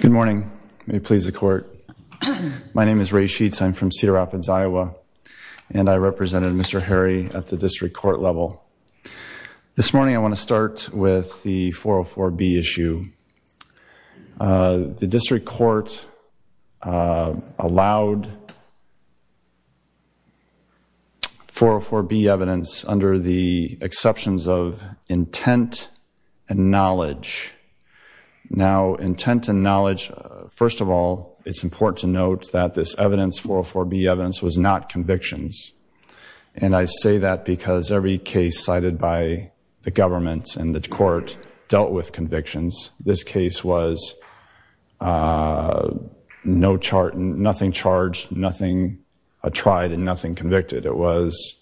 Good morning. May it please the court. My name is Ray Sheets. I'm from Cedar Rapids, Iowa, and I represented Mr. Harry at the district court level. This morning I want to start with the 404B issue. The district court allowed 404B evidence under the exceptions of intent and knowledge. Now intent and knowledge, first of all, it's important to note that this evidence, 404B evidence, was not convictions. And I say that because every case cited by the government and the court dealt with convictions. This case was nothing charged, nothing tried, and nothing convicted. It was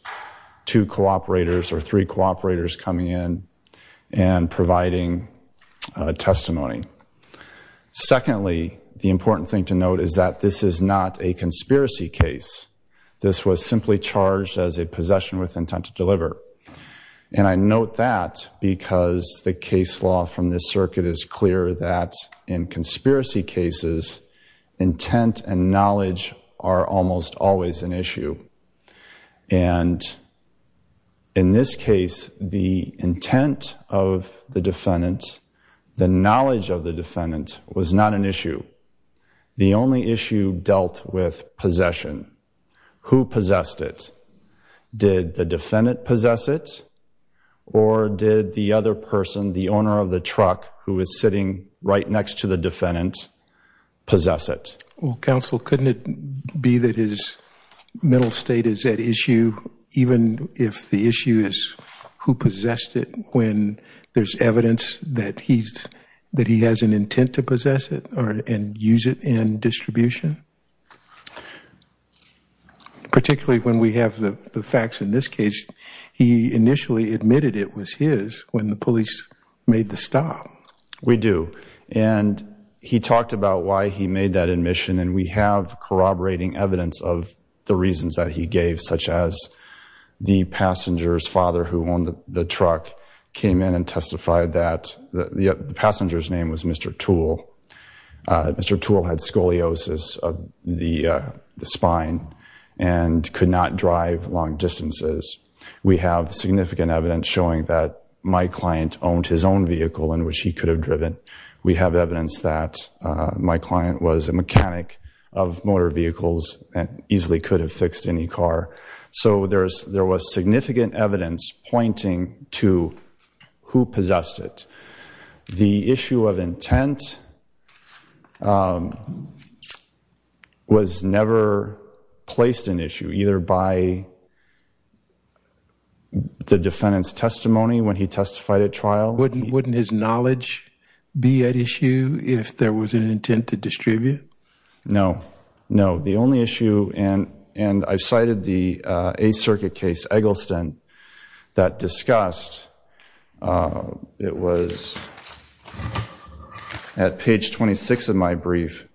two cooperators or three cooperators coming in and providing testimony. Secondly, the important thing to note is that this is not a conspiracy case. This was simply charged as a possession with intent to deliver. And I note that because the case law from this circuit is clear that in conspiracy cases, intent and knowledge are almost always an issue. And in this case, the intent of the defendant, the knowledge of the defendant, was not an issue. The only issue dealt with possession. Who possessed it? Did the defendant possess it or did the other person, the owner of the truck who was sitting right next to the defendant, possess it? Well, counsel, couldn't it be that his mental state is at issue even if the issue is who possessed it when there's evidence that he has an intent to possess it and use it in distribution? Particularly when we have the facts in this case, he initially admitted it was his when the police made the stop. We do. And he talked about why he made that admission, and we have corroborating evidence of the reasons that he gave, such as the passenger's father who owned the truck came in and testified that the passenger's name was Mr. Toole. Mr. Toole had scoliosis of the spine and could not drive long distances. We have significant evidence showing that my client owned his own vehicle in which he could have driven. We have evidence that my client was a mechanic of motor vehicles and easily could have fixed any car. So there was significant evidence pointing to who possessed it. The issue of intent was never placed in issue, either by the defendant's testimony when he testified at trial. Wouldn't his knowledge be at issue if there was an intent to distribute? No, no. The only issue, and I cited the Eighth Circuit case, Eggleston, that discussed it was at page 26 of my brief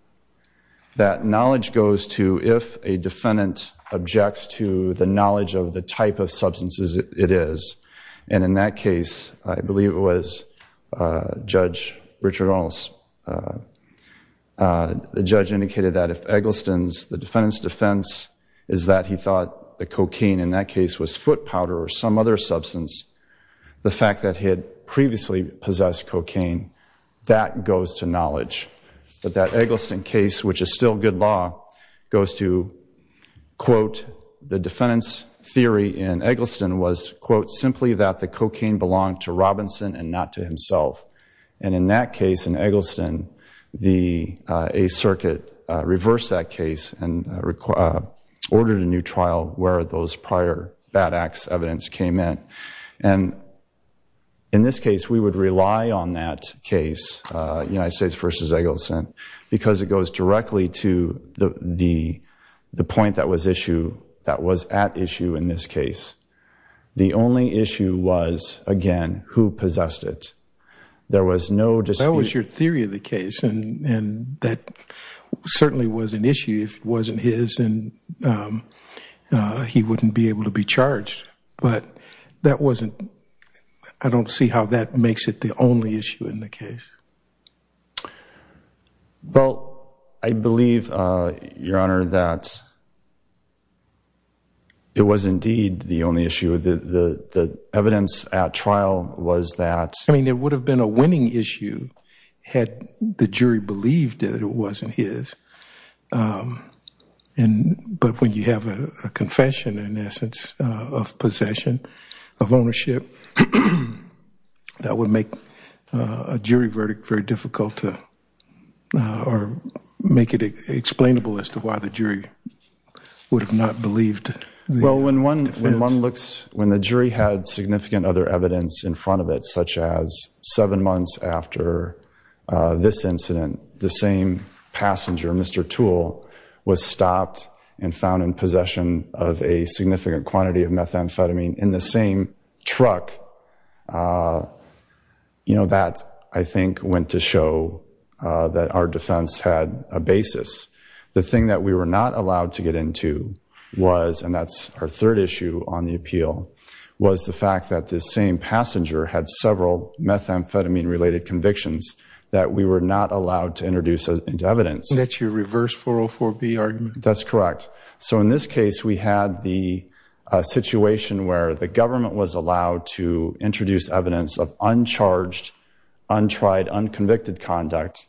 that knowledge goes to if a defendant objects to the knowledge of the type of substances it is. And in that case, I believe it was Judge Richard Arnold. The judge indicated that if Eggleston's, the defendant's defense is that he thought the cocaine in that case was foot powder or some other substance, the fact that he had previously possessed cocaine, that goes to knowledge. But that Eggleston case, which is still good law, goes to, quote, the defendant's theory in Eggleston was, quote, simply that the cocaine belonged to Robinson and not to himself. And in that case, in Eggleston, the Eighth Circuit reversed that case and ordered a new trial where those prior bad acts evidence came in. And in this case, we would rely on that case, United States v. Eggleston, because it goes directly to the point that was issue, that was at issue in this case. The only issue was, again, who possessed it. There was no dispute. That was your theory of the case, and that certainly was an issue if it wasn't his, and he wouldn't be able to be charged. But that wasn't, I don't see how that makes it the only issue in the case. Well, I believe, Your Honor, that it was indeed the only issue. The evidence at trial was that. I mean, it would have been a winning issue had the jury believed that it wasn't his. But when you have a confession, in essence, of possession, of ownership, that would make a jury verdict very difficult or make it explainable as to why the jury would have not believed the defense. When the jury had significant other evidence in front of it, such as seven months after this incident, the same passenger, Mr. Toole, was stopped and found in possession of a significant quantity of methamphetamine in the same truck, that, I think, went to show that our defense had a basis. The thing that we were not allowed to get into was, and that's our third issue on the appeal, was the fact that this same passenger had several methamphetamine-related convictions that we were not allowed to introduce into evidence. That's your reverse 404B argument. That's correct. So in this case, we had the situation where the government was allowed to introduce evidence of uncharged, untried, unconvicted conduct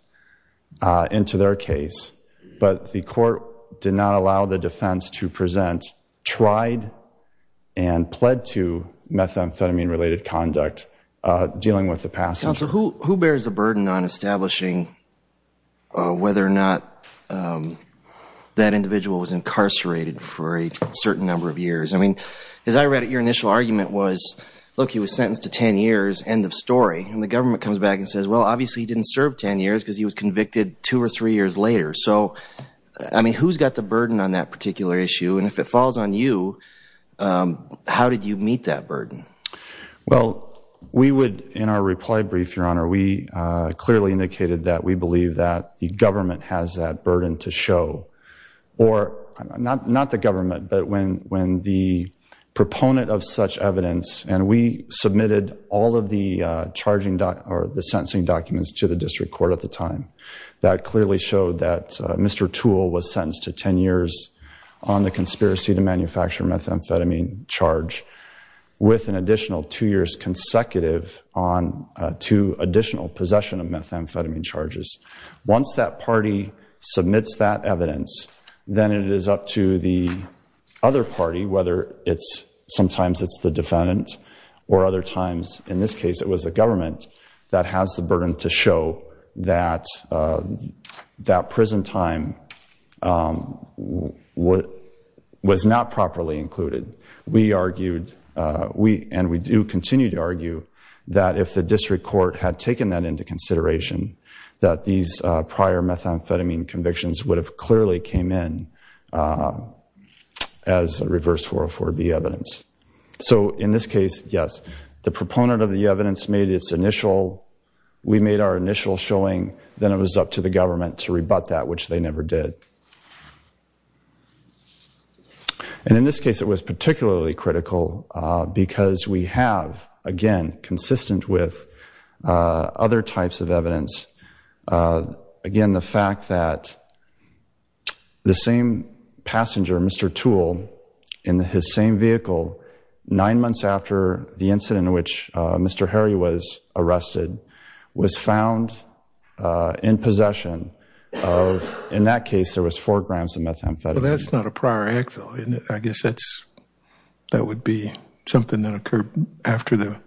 into their case, but the court did not allow the defense to present tried and pled to methamphetamine-related conduct dealing with the passenger. Counsel, who bears the burden on establishing whether or not that individual was incarcerated for a certain number of years? I mean, as I read it, your initial argument was, look, he was sentenced to 10 years, end of story. And the government comes back and says, well, obviously he didn't serve 10 years because he was convicted two or three years later. So, I mean, who's got the burden on that particular issue? And if it falls on you, how did you meet that burden? Well, we would, in our reply brief, Your Honor, we clearly indicated that we believe that the government has that burden to show. Or, not the government, but when the proponent of such evidence, and we submitted all of the sentencing documents to the district court at the time, that clearly showed that Mr. Toole was sentenced to 10 years on the conspiracy to manufacture methamphetamine charge with an additional two years consecutive to additional possession of methamphetamine charges. Once that party submits that evidence, then it is up to the other party, whether sometimes it's the defendant or other times, in this case it was the government, that has the burden to show that that prison time was not properly included. We argued, and we do continue to argue, that if the district court had taken that into consideration, that these prior methamphetamine convictions would have clearly came in as reverse 404B evidence. So, in this case, yes, the proponent of the evidence made its initial, we made our initial showing, then it was up to the government to rebut that, which they never did. And in this case, it was particularly critical because we have, again, consistent with other types of evidence. Again, the fact that the same passenger, Mr. Toole, in his same vehicle, nine months after the incident in which Mr. Harry was arrested, was found in possession of, in that case, there was four grams of methamphetamine. Well, that's not a prior act, though, isn't it? I guess that would be something that occurred after the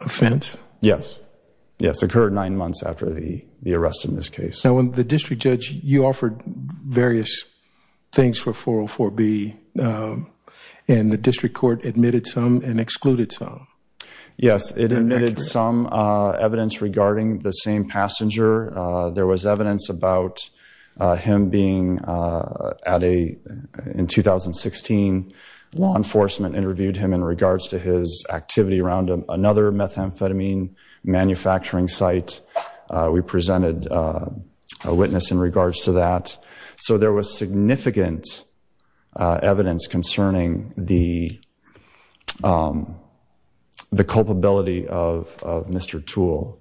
offense? Yes. Yes, it occurred nine months after the arrest in this case. Now, the district judge, you offered various things for 404B, and the district court admitted some and excluded some. Yes, it admitted some evidence regarding the same passenger. There was evidence about him being, in 2016, law enforcement interviewed him in regards to his activity around another methamphetamine manufacturing site. We presented a witness in regards to that. So there was significant evidence concerning the culpability of Mr. Toole.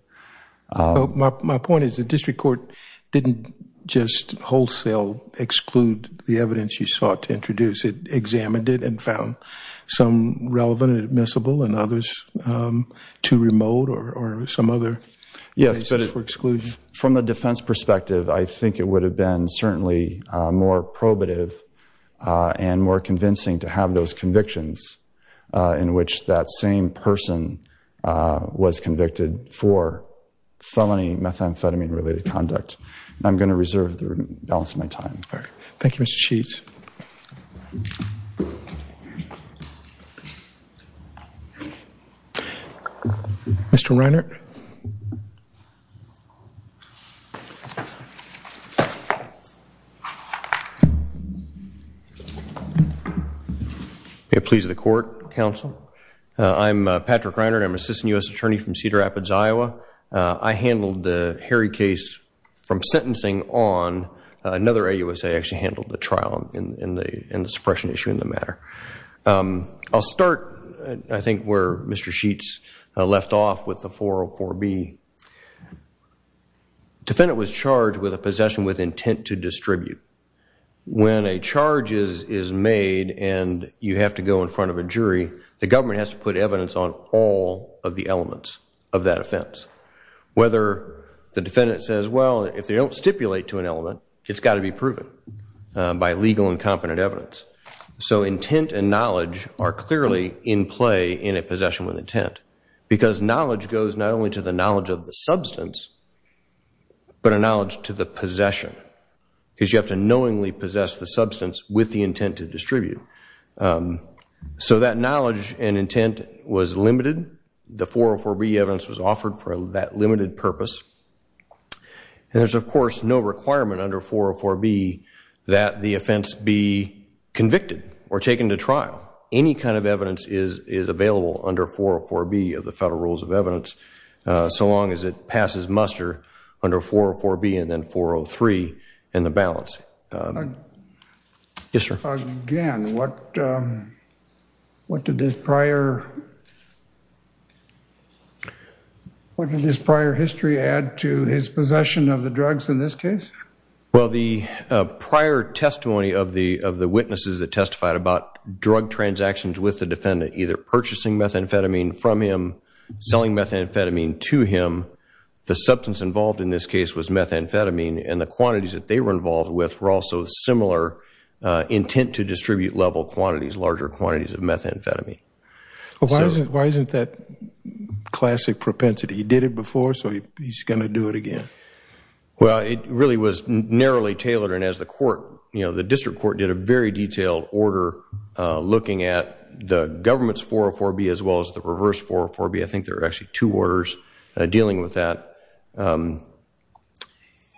My point is the district court didn't just wholesale exclude the evidence you sought to introduce. It examined it and found some relevant and admissible and others too remote or some other places for exclusion. From a defense perspective, I think it would have been certainly more probative and more convincing to have those convictions in which that same person was convicted for felony methamphetamine-related conduct. I'm going to reserve the balance of my time. Thank you, Mr. Chiefs. Thank you. Mr. Reinert. May it please the court, counsel. I'm Patrick Reinert. I'm an assistant U.S. attorney from Cedar Rapids, Iowa. I handled the Harry case from sentencing on another AUSA. I actually handled the trial and the suppression issue in the matter. I'll start, I think, where Mr. Sheets left off with the 404B. Defendant was charged with a possession with intent to distribute. When a charge is made and you have to go in front of a jury, the government has to put evidence on all of the elements of that offense. Whether the defendant says, well, if they don't stipulate to an element, it's got to be proven by legal and competent evidence. So intent and knowledge are clearly in play in a possession with intent because knowledge goes not only to the knowledge of the substance but a knowledge to the possession because you have to knowingly possess the substance with the intent to distribute. So that knowledge and intent was limited. The 404B evidence was offered for that limited purpose. And there's, of course, no requirement under 404B that the offense be convicted or taken to trial. Any kind of evidence is available under 404B of the Federal Rules of Evidence so long as it passes muster under 404B and then 403 and the balance. Yes, sir. Again, what did this prior history add to his possession of the drugs in this case? Well, the prior testimony of the witnesses that testified about drug transactions with the defendant, either purchasing methamphetamine from him, selling methamphetamine to him, the substance involved in this case was methamphetamine and the quantities that they were involved with were also similar intent to distribute level quantities, larger quantities of methamphetamine. Why isn't that classic propensity? He did it before so he's going to do it again. Well, it really was narrowly tailored and as the court, you know, the district court did a very detailed order looking at the government's 404B as well as the reverse 404B. I think there are actually two orders dealing with that and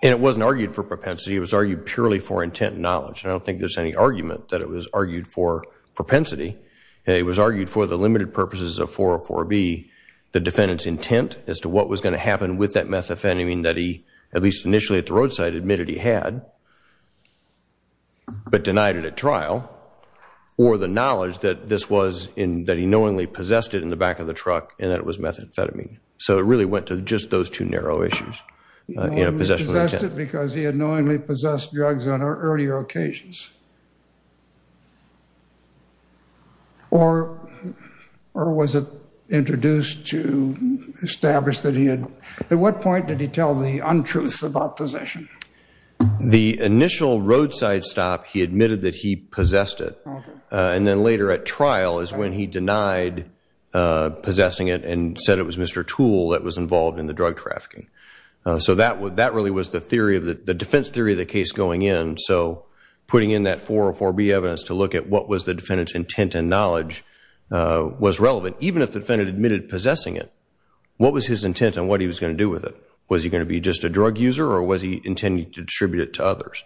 it wasn't argued for propensity. It was argued purely for intent and knowledge and I don't think there's any argument that it was argued for propensity. It was argued for the limited purposes of 404B, the defendant's intent as to what was going to happen with that methamphetamine that he, at least initially at the roadside, admitted he had but denied it at trial or the knowledge that this was, that he knowingly possessed it in the back of the truck and that it was methamphetamine. So it really went to just those two narrow issues, you know, possession of intent. He possessed it because he had knowingly possessed drugs on earlier occasions or was it introduced to establish that he had, at what point did he tell the untruths about possession? The initial roadside stop, he admitted that he possessed it and then later at trial is when he denied possessing it and said it was Mr. Toole that was involved in the drug trafficking. So that really was the defense theory of the case going in. So putting in that 404B evidence to look at what was the defendant's intent and knowledge was relevant. Even if the defendant admitted possessing it, what was his intent on what he was going to do with it? Was he going to be just a drug user or was he intending to distribute it to others?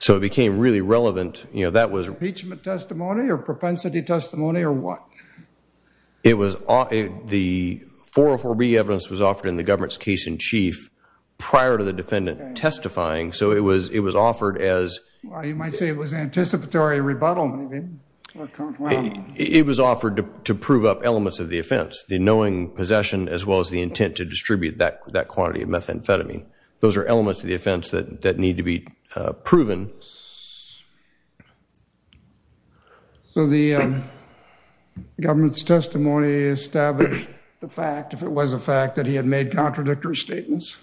So it became really relevant, you know, that was... Impeachment testimony or propensity testimony or what? It was, the 404B evidence was offered in the government's case in chief prior to the defendant testifying. So it was, it was offered as... You might say it was anticipatory rebuttal maybe. It was offered to prove up elements of the offense. The knowing possession as well as the intent to distribute that quantity of methamphetamine. Those are elements of the offense that need to be proven. So the government's testimony established the fact, if it was a fact, that he had made contradictory statements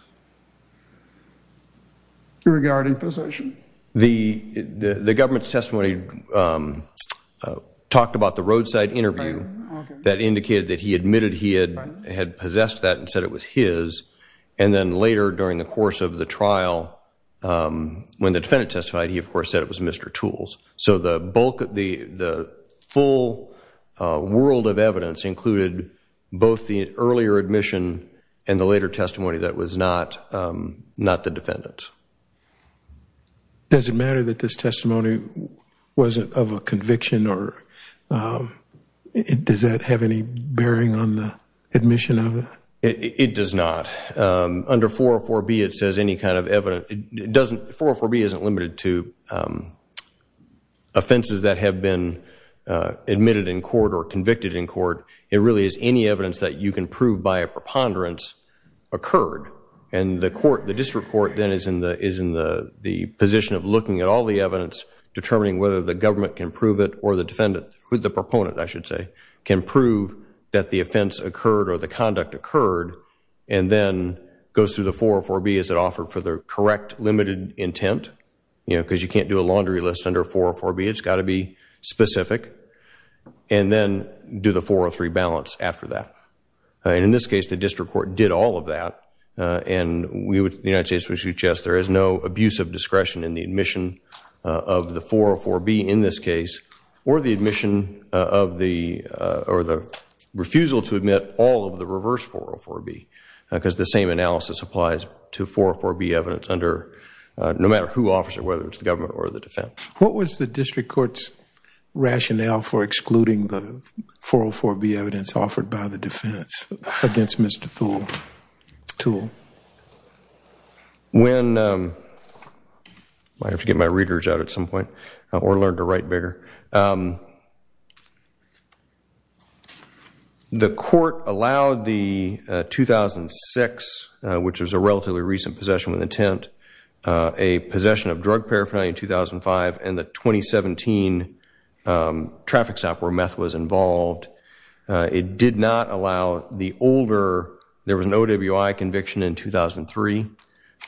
regarding possession? The government's testimony talked about the roadside interview that indicated that he admitted he had possessed that and said it was his. And then later during the course of the trial, when the defendant testified, he of course said it was Mr. Toole's. So the bulk, the full world of evidence included both the earlier admission and the later testimony that was not the defendant's. Does it matter that this testimony wasn't of a conviction or... Does that have any bearing on the admission of it? It does not. Under 404B it says any kind of evidence... 404B isn't limited to offenses that have been admitted in court or convicted in court. It really is any evidence that you can prove by a preponderance occurred. And the court, the district court then is in the position of looking at all the evidence, determining whether the government can prove it or the defendant, the proponent I should say, can prove that the offense occurred or the conduct occurred and then goes through the 404B as it offered for the correct limited intent. You know, because you can't do a laundry list under 404B. It's got to be specific. And then do the 403 balance after that. And in this case, the district court did all of that. And we would, the United States would suggest there is no abuse of discretion in the admission of the 404B in this case or the admission of the... or the refusal to admit all of the reverse 404B because the same analysis applies to 404B evidence under... no matter who offers it, whether it's the government or the defense. What was the district court's rationale for excluding the 404B evidence offered by the defense against Mr. Thule? When... I have to get my readers out at some point or learn to write bigger. The court allowed the 2006, which was a relatively recent possession with intent, a possession of drug paraphernalia in 2005 and the 2017 traffic stop where meth was involved. It did not allow the older. There was an OWI conviction in 2003.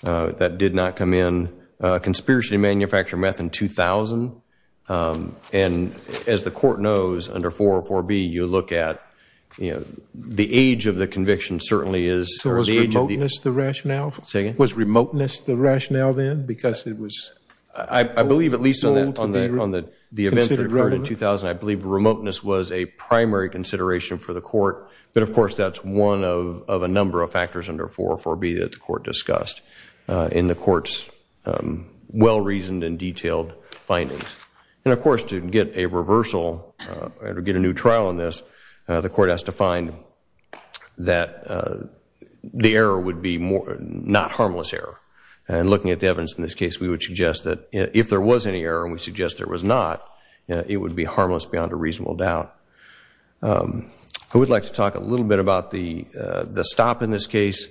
That did not come in. Conspiracy to manufacture meth in 2000. And as the court knows, under 404B, you look at, you know, the age of the conviction certainly is... So was remoteness the rationale? Say again? Was remoteness the rationale then because it was... I believe at least on the events that occurred in 2000, I believe remoteness was a primary consideration for the court. But, of course, that's one of a number of factors under 404B that the court discussed in the court's well-reasoned and detailed findings. And, of course, to get a reversal or to get a new trial on this, the court has to find that the error would be not harmless error. And looking at the evidence in this case, we would suggest that if there was any error, and we suggest there was not, it would be harmless beyond a reasonable doubt. I would like to talk a little bit about the stop in this case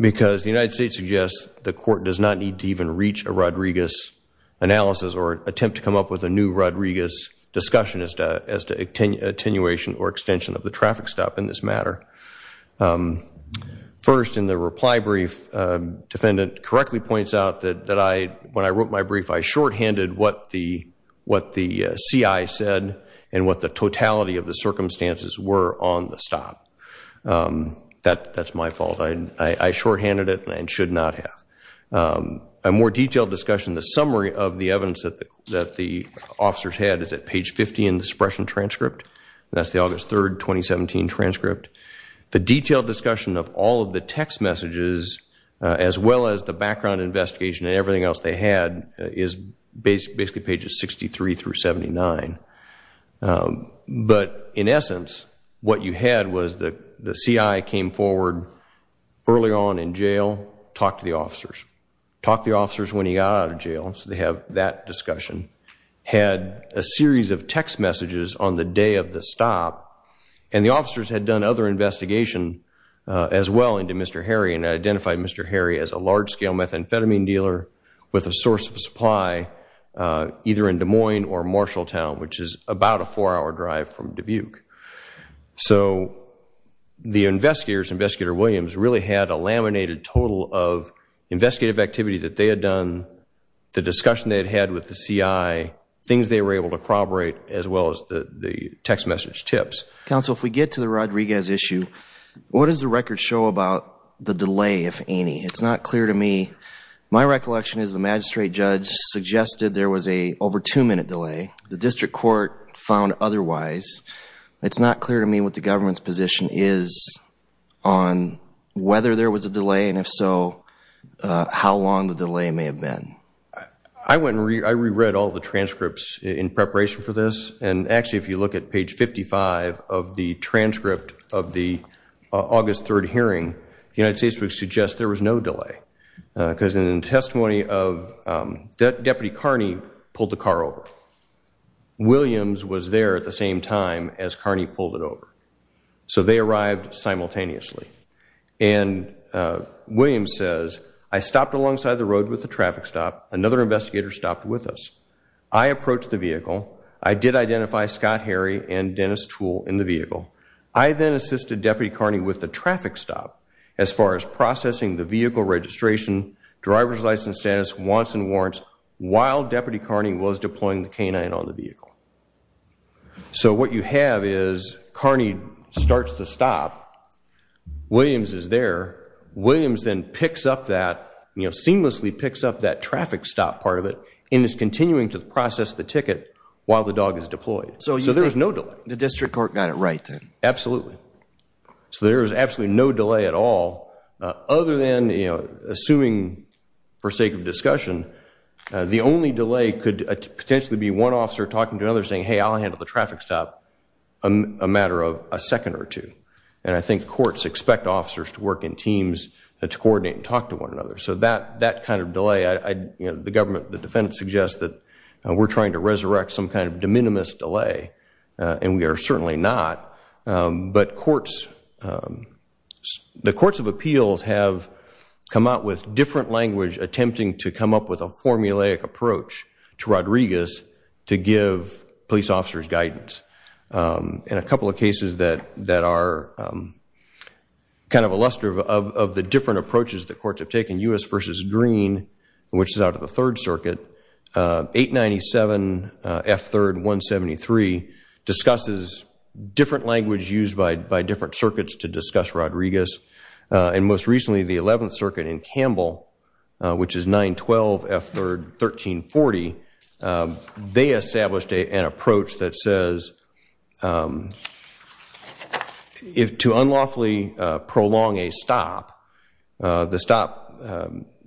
because the United States suggests the court does not need to even reach a Rodriguez analysis or attempt to come up with a new Rodriguez discussion as to attenuation or extension of the traffic stop in this matter. First, in the reply brief, defendant correctly points out that when I wrote my brief, I shorthanded what the CI said and what the totality of the circumstances were on the stop. That's my fault. I shorthanded it and should not have. A more detailed discussion, the summary of the evidence that the officers had is at page 50 in the suppression transcript. That's the August 3, 2017 transcript. The detailed discussion of all of the text messages, as well as the background investigation and everything else they had, is basically pages 63 through 79. But in essence, what you had was the CI came forward early on in jail, talked to the officers. Talked to the officers when he got out of jail, so they have that discussion. Had a series of text messages on the day of the stop, and the officers had done other investigation as well into Mr. Harry and identified Mr. Harry as a large-scale methamphetamine dealer with a source of supply either in Des Moines or Marshalltown, which is about a four-hour drive from Dubuque. So the investigators, Investigator Williams, really had a laminated total of investigative activity that they had done, the discussion they had had with the CI, things they were able to corroborate, as well as the text message tips. Counsel, if we get to the Rodriguez issue, what does the record show about the delay, if any? It's not clear to me. My recollection is the magistrate judge suggested there was an over two-minute delay. The district court found otherwise. It's not clear to me what the government's position is on whether there was a delay, and if so, how long the delay may have been. I re-read all the transcripts in preparation for this, and actually if you look at page 55 of the transcript of the August 3rd hearing, the United States would suggest there was no delay, because in the testimony of Deputy Carney pulled the car over. Williams was there at the same time as Carney pulled it over. So they arrived simultaneously. And Williams says, I stopped alongside the road with the traffic stop. Another investigator stopped with us. I approached the vehicle. I did identify Scott Harry and Dennis Tool in the vehicle. I then assisted Deputy Carney with the traffic stop, as far as processing the vehicle registration, driver's license status, wants and warrants, while Deputy Carney was deploying the canine on the vehicle. So what you have is Carney starts to stop. Williams is there. Williams then picks up that, you know, seamlessly picks up that traffic stop part of it and is continuing to process the ticket while the dog is deployed. So there was no delay. The district court got it right then. Absolutely. So there was absolutely no delay at all, other than, you know, assuming for sake of discussion, the only delay could potentially be one officer talking to another saying, hey, I'll handle the traffic stop in a matter of a second or two. And I think courts expect officers to work in teams to coordinate and talk to one another. So that kind of delay, you know, the government, the defendant, suggests that we're trying to resurrect some kind of de minimis delay, and we are certainly not. But courts, the courts of appeals have come out with different language attempting to come up with a formulaic approach to Rodriguez to give police officers guidance. In a couple of cases that are kind of a luster of the different approaches the courts have taken, U.S. v. Green, which is out of the Third Circuit, 897 F. 3rd 173 discusses different language used by different circuits to discuss Rodriguez. And most recently, the 11th Circuit in Campbell, which is 912 F. 3rd 1340, they established an approach that says, if to unlawfully prolong a stop, the stop,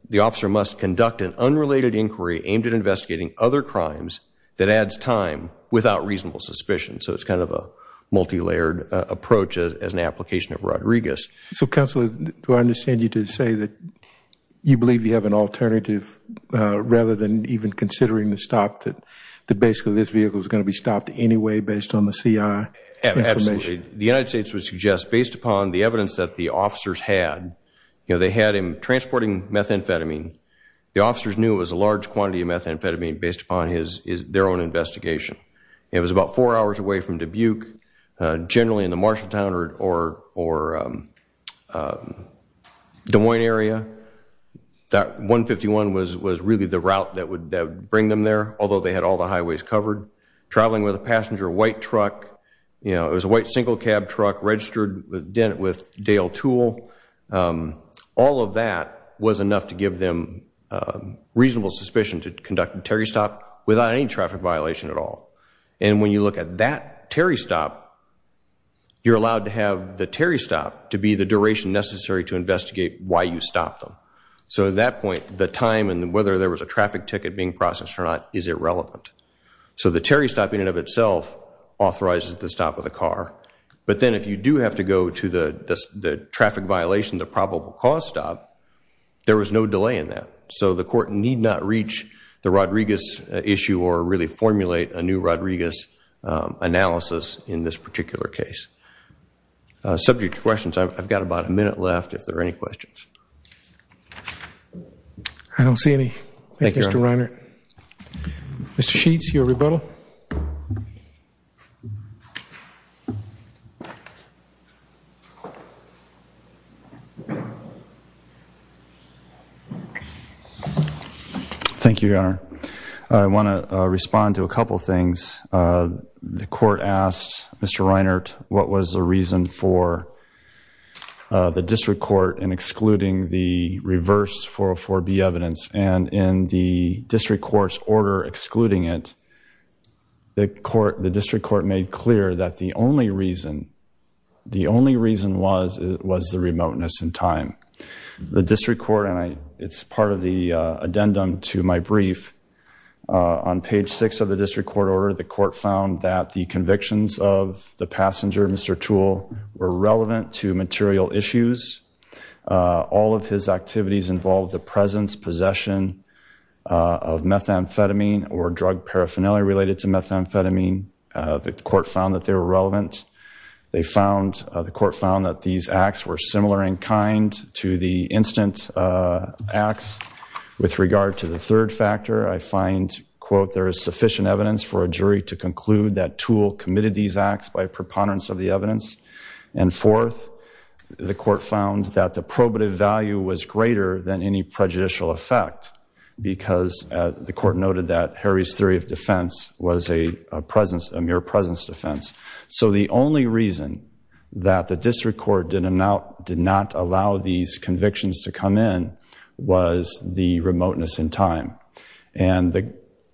the officer must conduct an unrelated inquiry aimed at investigating other crimes that adds time without reasonable suspicion. So it's kind of a multilayered approach as an application of Rodriguez. So, Counselor, do I understand you to say that you believe you have an alternative rather than even considering the stop, that basically this vehicle is going to be stopped anyway based on the C.I. information? Absolutely. The United States would suggest, based upon the evidence that the officers had, you know, they had him transporting methamphetamine. The officers knew it was a large quantity of methamphetamine based upon their own investigation. It was about four hours away from Dubuque, generally in the Marshalltown or Des Moines area. That 151 was really the route that would bring them there, although they had all the highways covered. Traveling with a passenger white truck, you know, it was a white single cab truck registered with Dale Tool. All of that was enough to give them reasonable suspicion to conduct a Terry stop without any traffic violation at all. And when you look at that Terry stop, you're allowed to have the Terry stop to be the duration necessary to investigate why you stopped them. So at that point, the time and whether there was a traffic ticket being processed or not is irrelevant. So the Terry stop in and of itself authorizes the stop of the car. But then if you do have to go to the traffic violation, the probable cause stop, there was no delay in that. So the court need not reach the Rodriguez issue or really formulate a new Rodriguez analysis in this particular case. Subject to questions, I've got about a minute left if there are any questions. I don't see any. Thank you, Mr. Reiner. Mr. Sheets, your rebuttal. Thank you, Your Honor. I want to respond to a couple of things. The court asked Mr. Reiner, what was the reason for the district court in excluding the reverse 404B evidence? And in the district court's order excluding it, the district court made clear that the only reason was the remoteness in time. The district court, and it's part of the addendum to my brief, on page six of the district court order, the court found that the convictions of the passenger, Mr. Toole, were relevant to material issues. All of his activities involved the presence, possession of methamphetamine or drug paraphernalia related to methamphetamine. The court found that they were relevant. The court found that these acts were similar in kind to the instant acts with regard to the third factor. I find, quote, there is sufficient evidence for a jury to conclude that Toole committed these acts by preponderance of the evidence. And fourth, the court found that the probative value was greater than any prejudicial effect because the court noted that Harry's theory of defense was a mere presence defense. So the only reason that the district court did not allow these convictions to come in was the remoteness in time. And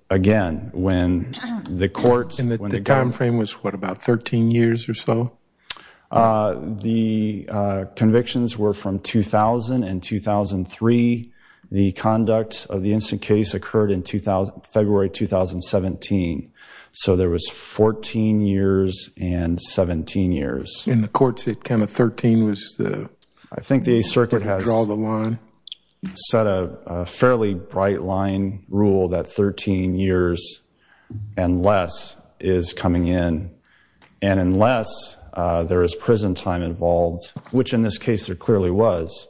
again, when the court... And the time frame was what, about 13 years or so? The convictions were from 2000 and 2003. The conduct of the instant case occurred in February 2017. So there was 14 years and 17 years. In the courts, it kind of 13 was the... the main rule that 13 years and less is coming in. And unless there is prison time involved, which in this case there clearly was,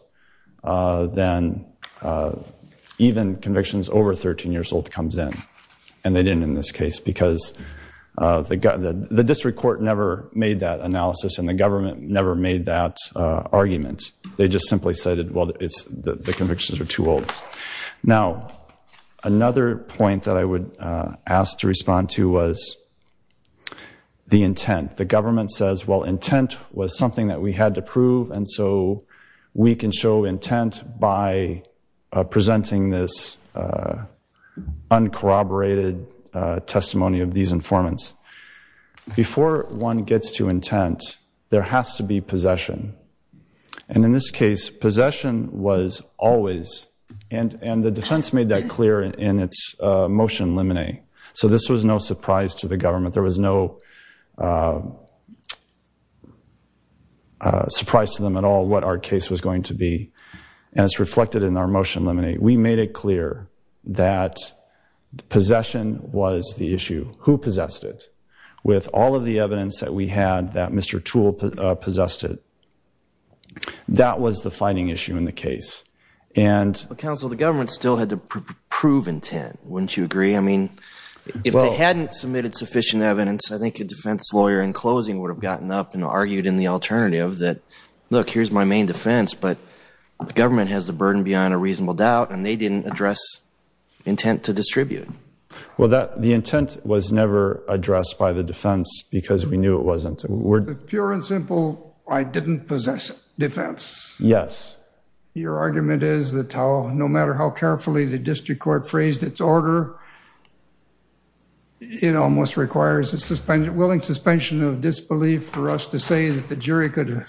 then even convictions over 13 years old comes in. And they didn't in this case because the district court never made that analysis and the government never made that argument. They just simply said, well, the convictions are too old. Now, another point that I would ask to respond to was the intent. The government says, well, intent was something that we had to prove, and so we can show intent by presenting this uncorroborated testimony of these informants. Before one gets to intent, there has to be possession. And in this case, possession was always... And the defense made that clear in its motion limine. So this was no surprise to the government. There was no surprise to them at all what our case was going to be. And it's reflected in our motion limine. We made it clear that possession was the issue. Who possessed it? With all of the evidence that we had that Mr. Toole possessed it, that was the fighting issue in the case. Counsel, the government still had to prove intent. Wouldn't you agree? I mean, if they hadn't submitted sufficient evidence, I think a defense lawyer in closing would have gotten up and argued in the alternative that, look, here's my main defense, but the government has the burden beyond a reasonable doubt, and they didn't address intent to distribute. Well, the intent was never addressed by the defense because we knew it wasn't. Pure and simple, I didn't possess defense. Yes. Your argument is that no matter how carefully the district court phrased its order, it almost requires a willing suspension of disbelief for us to say that the jury could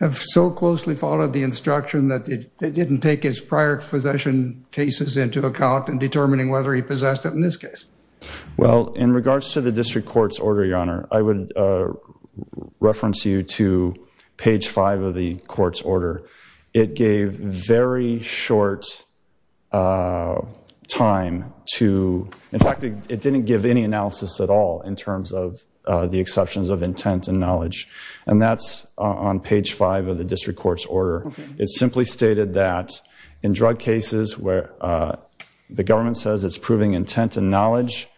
have so closely followed the instruction that it didn't take its prior possession cases into account in determining whether he possessed it in this case. Well, in regards to the district court's order, Your Honor, I would reference you to page five of the court's order. It gave very short time to... In fact, it didn't give any analysis at all in terms of the exceptions of intent and knowledge, or it simply stated that in drug cases where the government says it's proving intent and knowledge,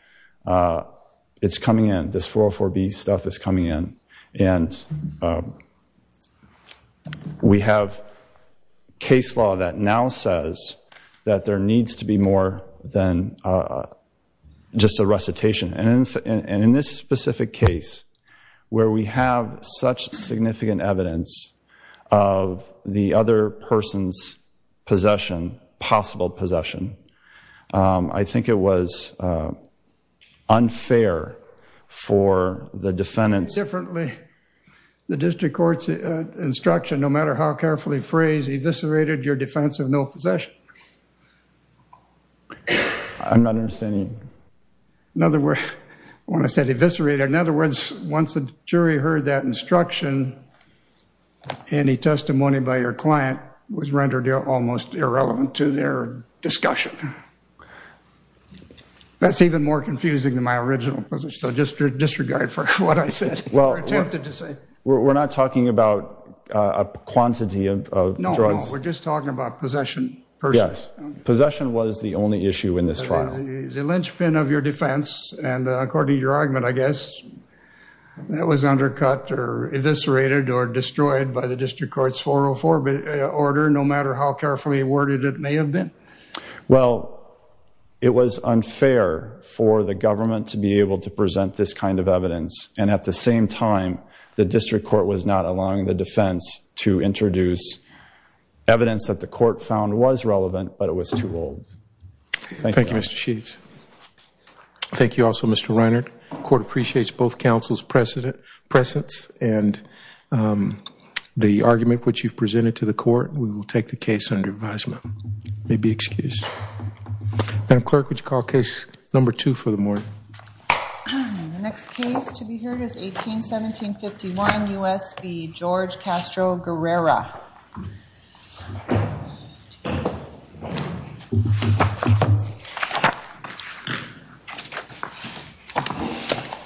it's coming in, this 404B stuff is coming in. And we have case law that now says that there needs to be more than just a recitation. And in this specific case where we have such significant evidence of the other person's possession, possible possession, I think it was unfair for the defendants... Differently, the district court's instruction, no matter how carefully phrased, eviscerated your defense of no possession. I'm not understanding... In other words, when I said eviscerated, in other words, once the jury heard that instruction, any testimony by your client was rendered almost irrelevant to their discussion. That's even more confusing than my original position. So just disregard for what I said or attempted to say. Well, we're not talking about a quantity of drugs. No, no, we're just talking about possession. Yes, possession was the only issue in this trial. The linchpin of your defense, and according to your argument, I guess, that was undercut or eviscerated or destroyed by the district court's 404B order, no matter how carefully worded it may have been? Well, it was unfair for the government to be able to present this kind of evidence. And at the same time, the district court was not allowing the defense to introduce evidence that the court found was relevant, but it was too old. Thank you, Mr. Sheets. Thank you also, Mr. Reinert. The court appreciates both counsel's presence and the argument which you've presented to the court. We will take the case under advisement. You may be excused. Madam Clerk, would you call Case No. 2 for the morning? The next case to be heard is 18-17-51, U.S. v. George Castro Guerrera. Thank you.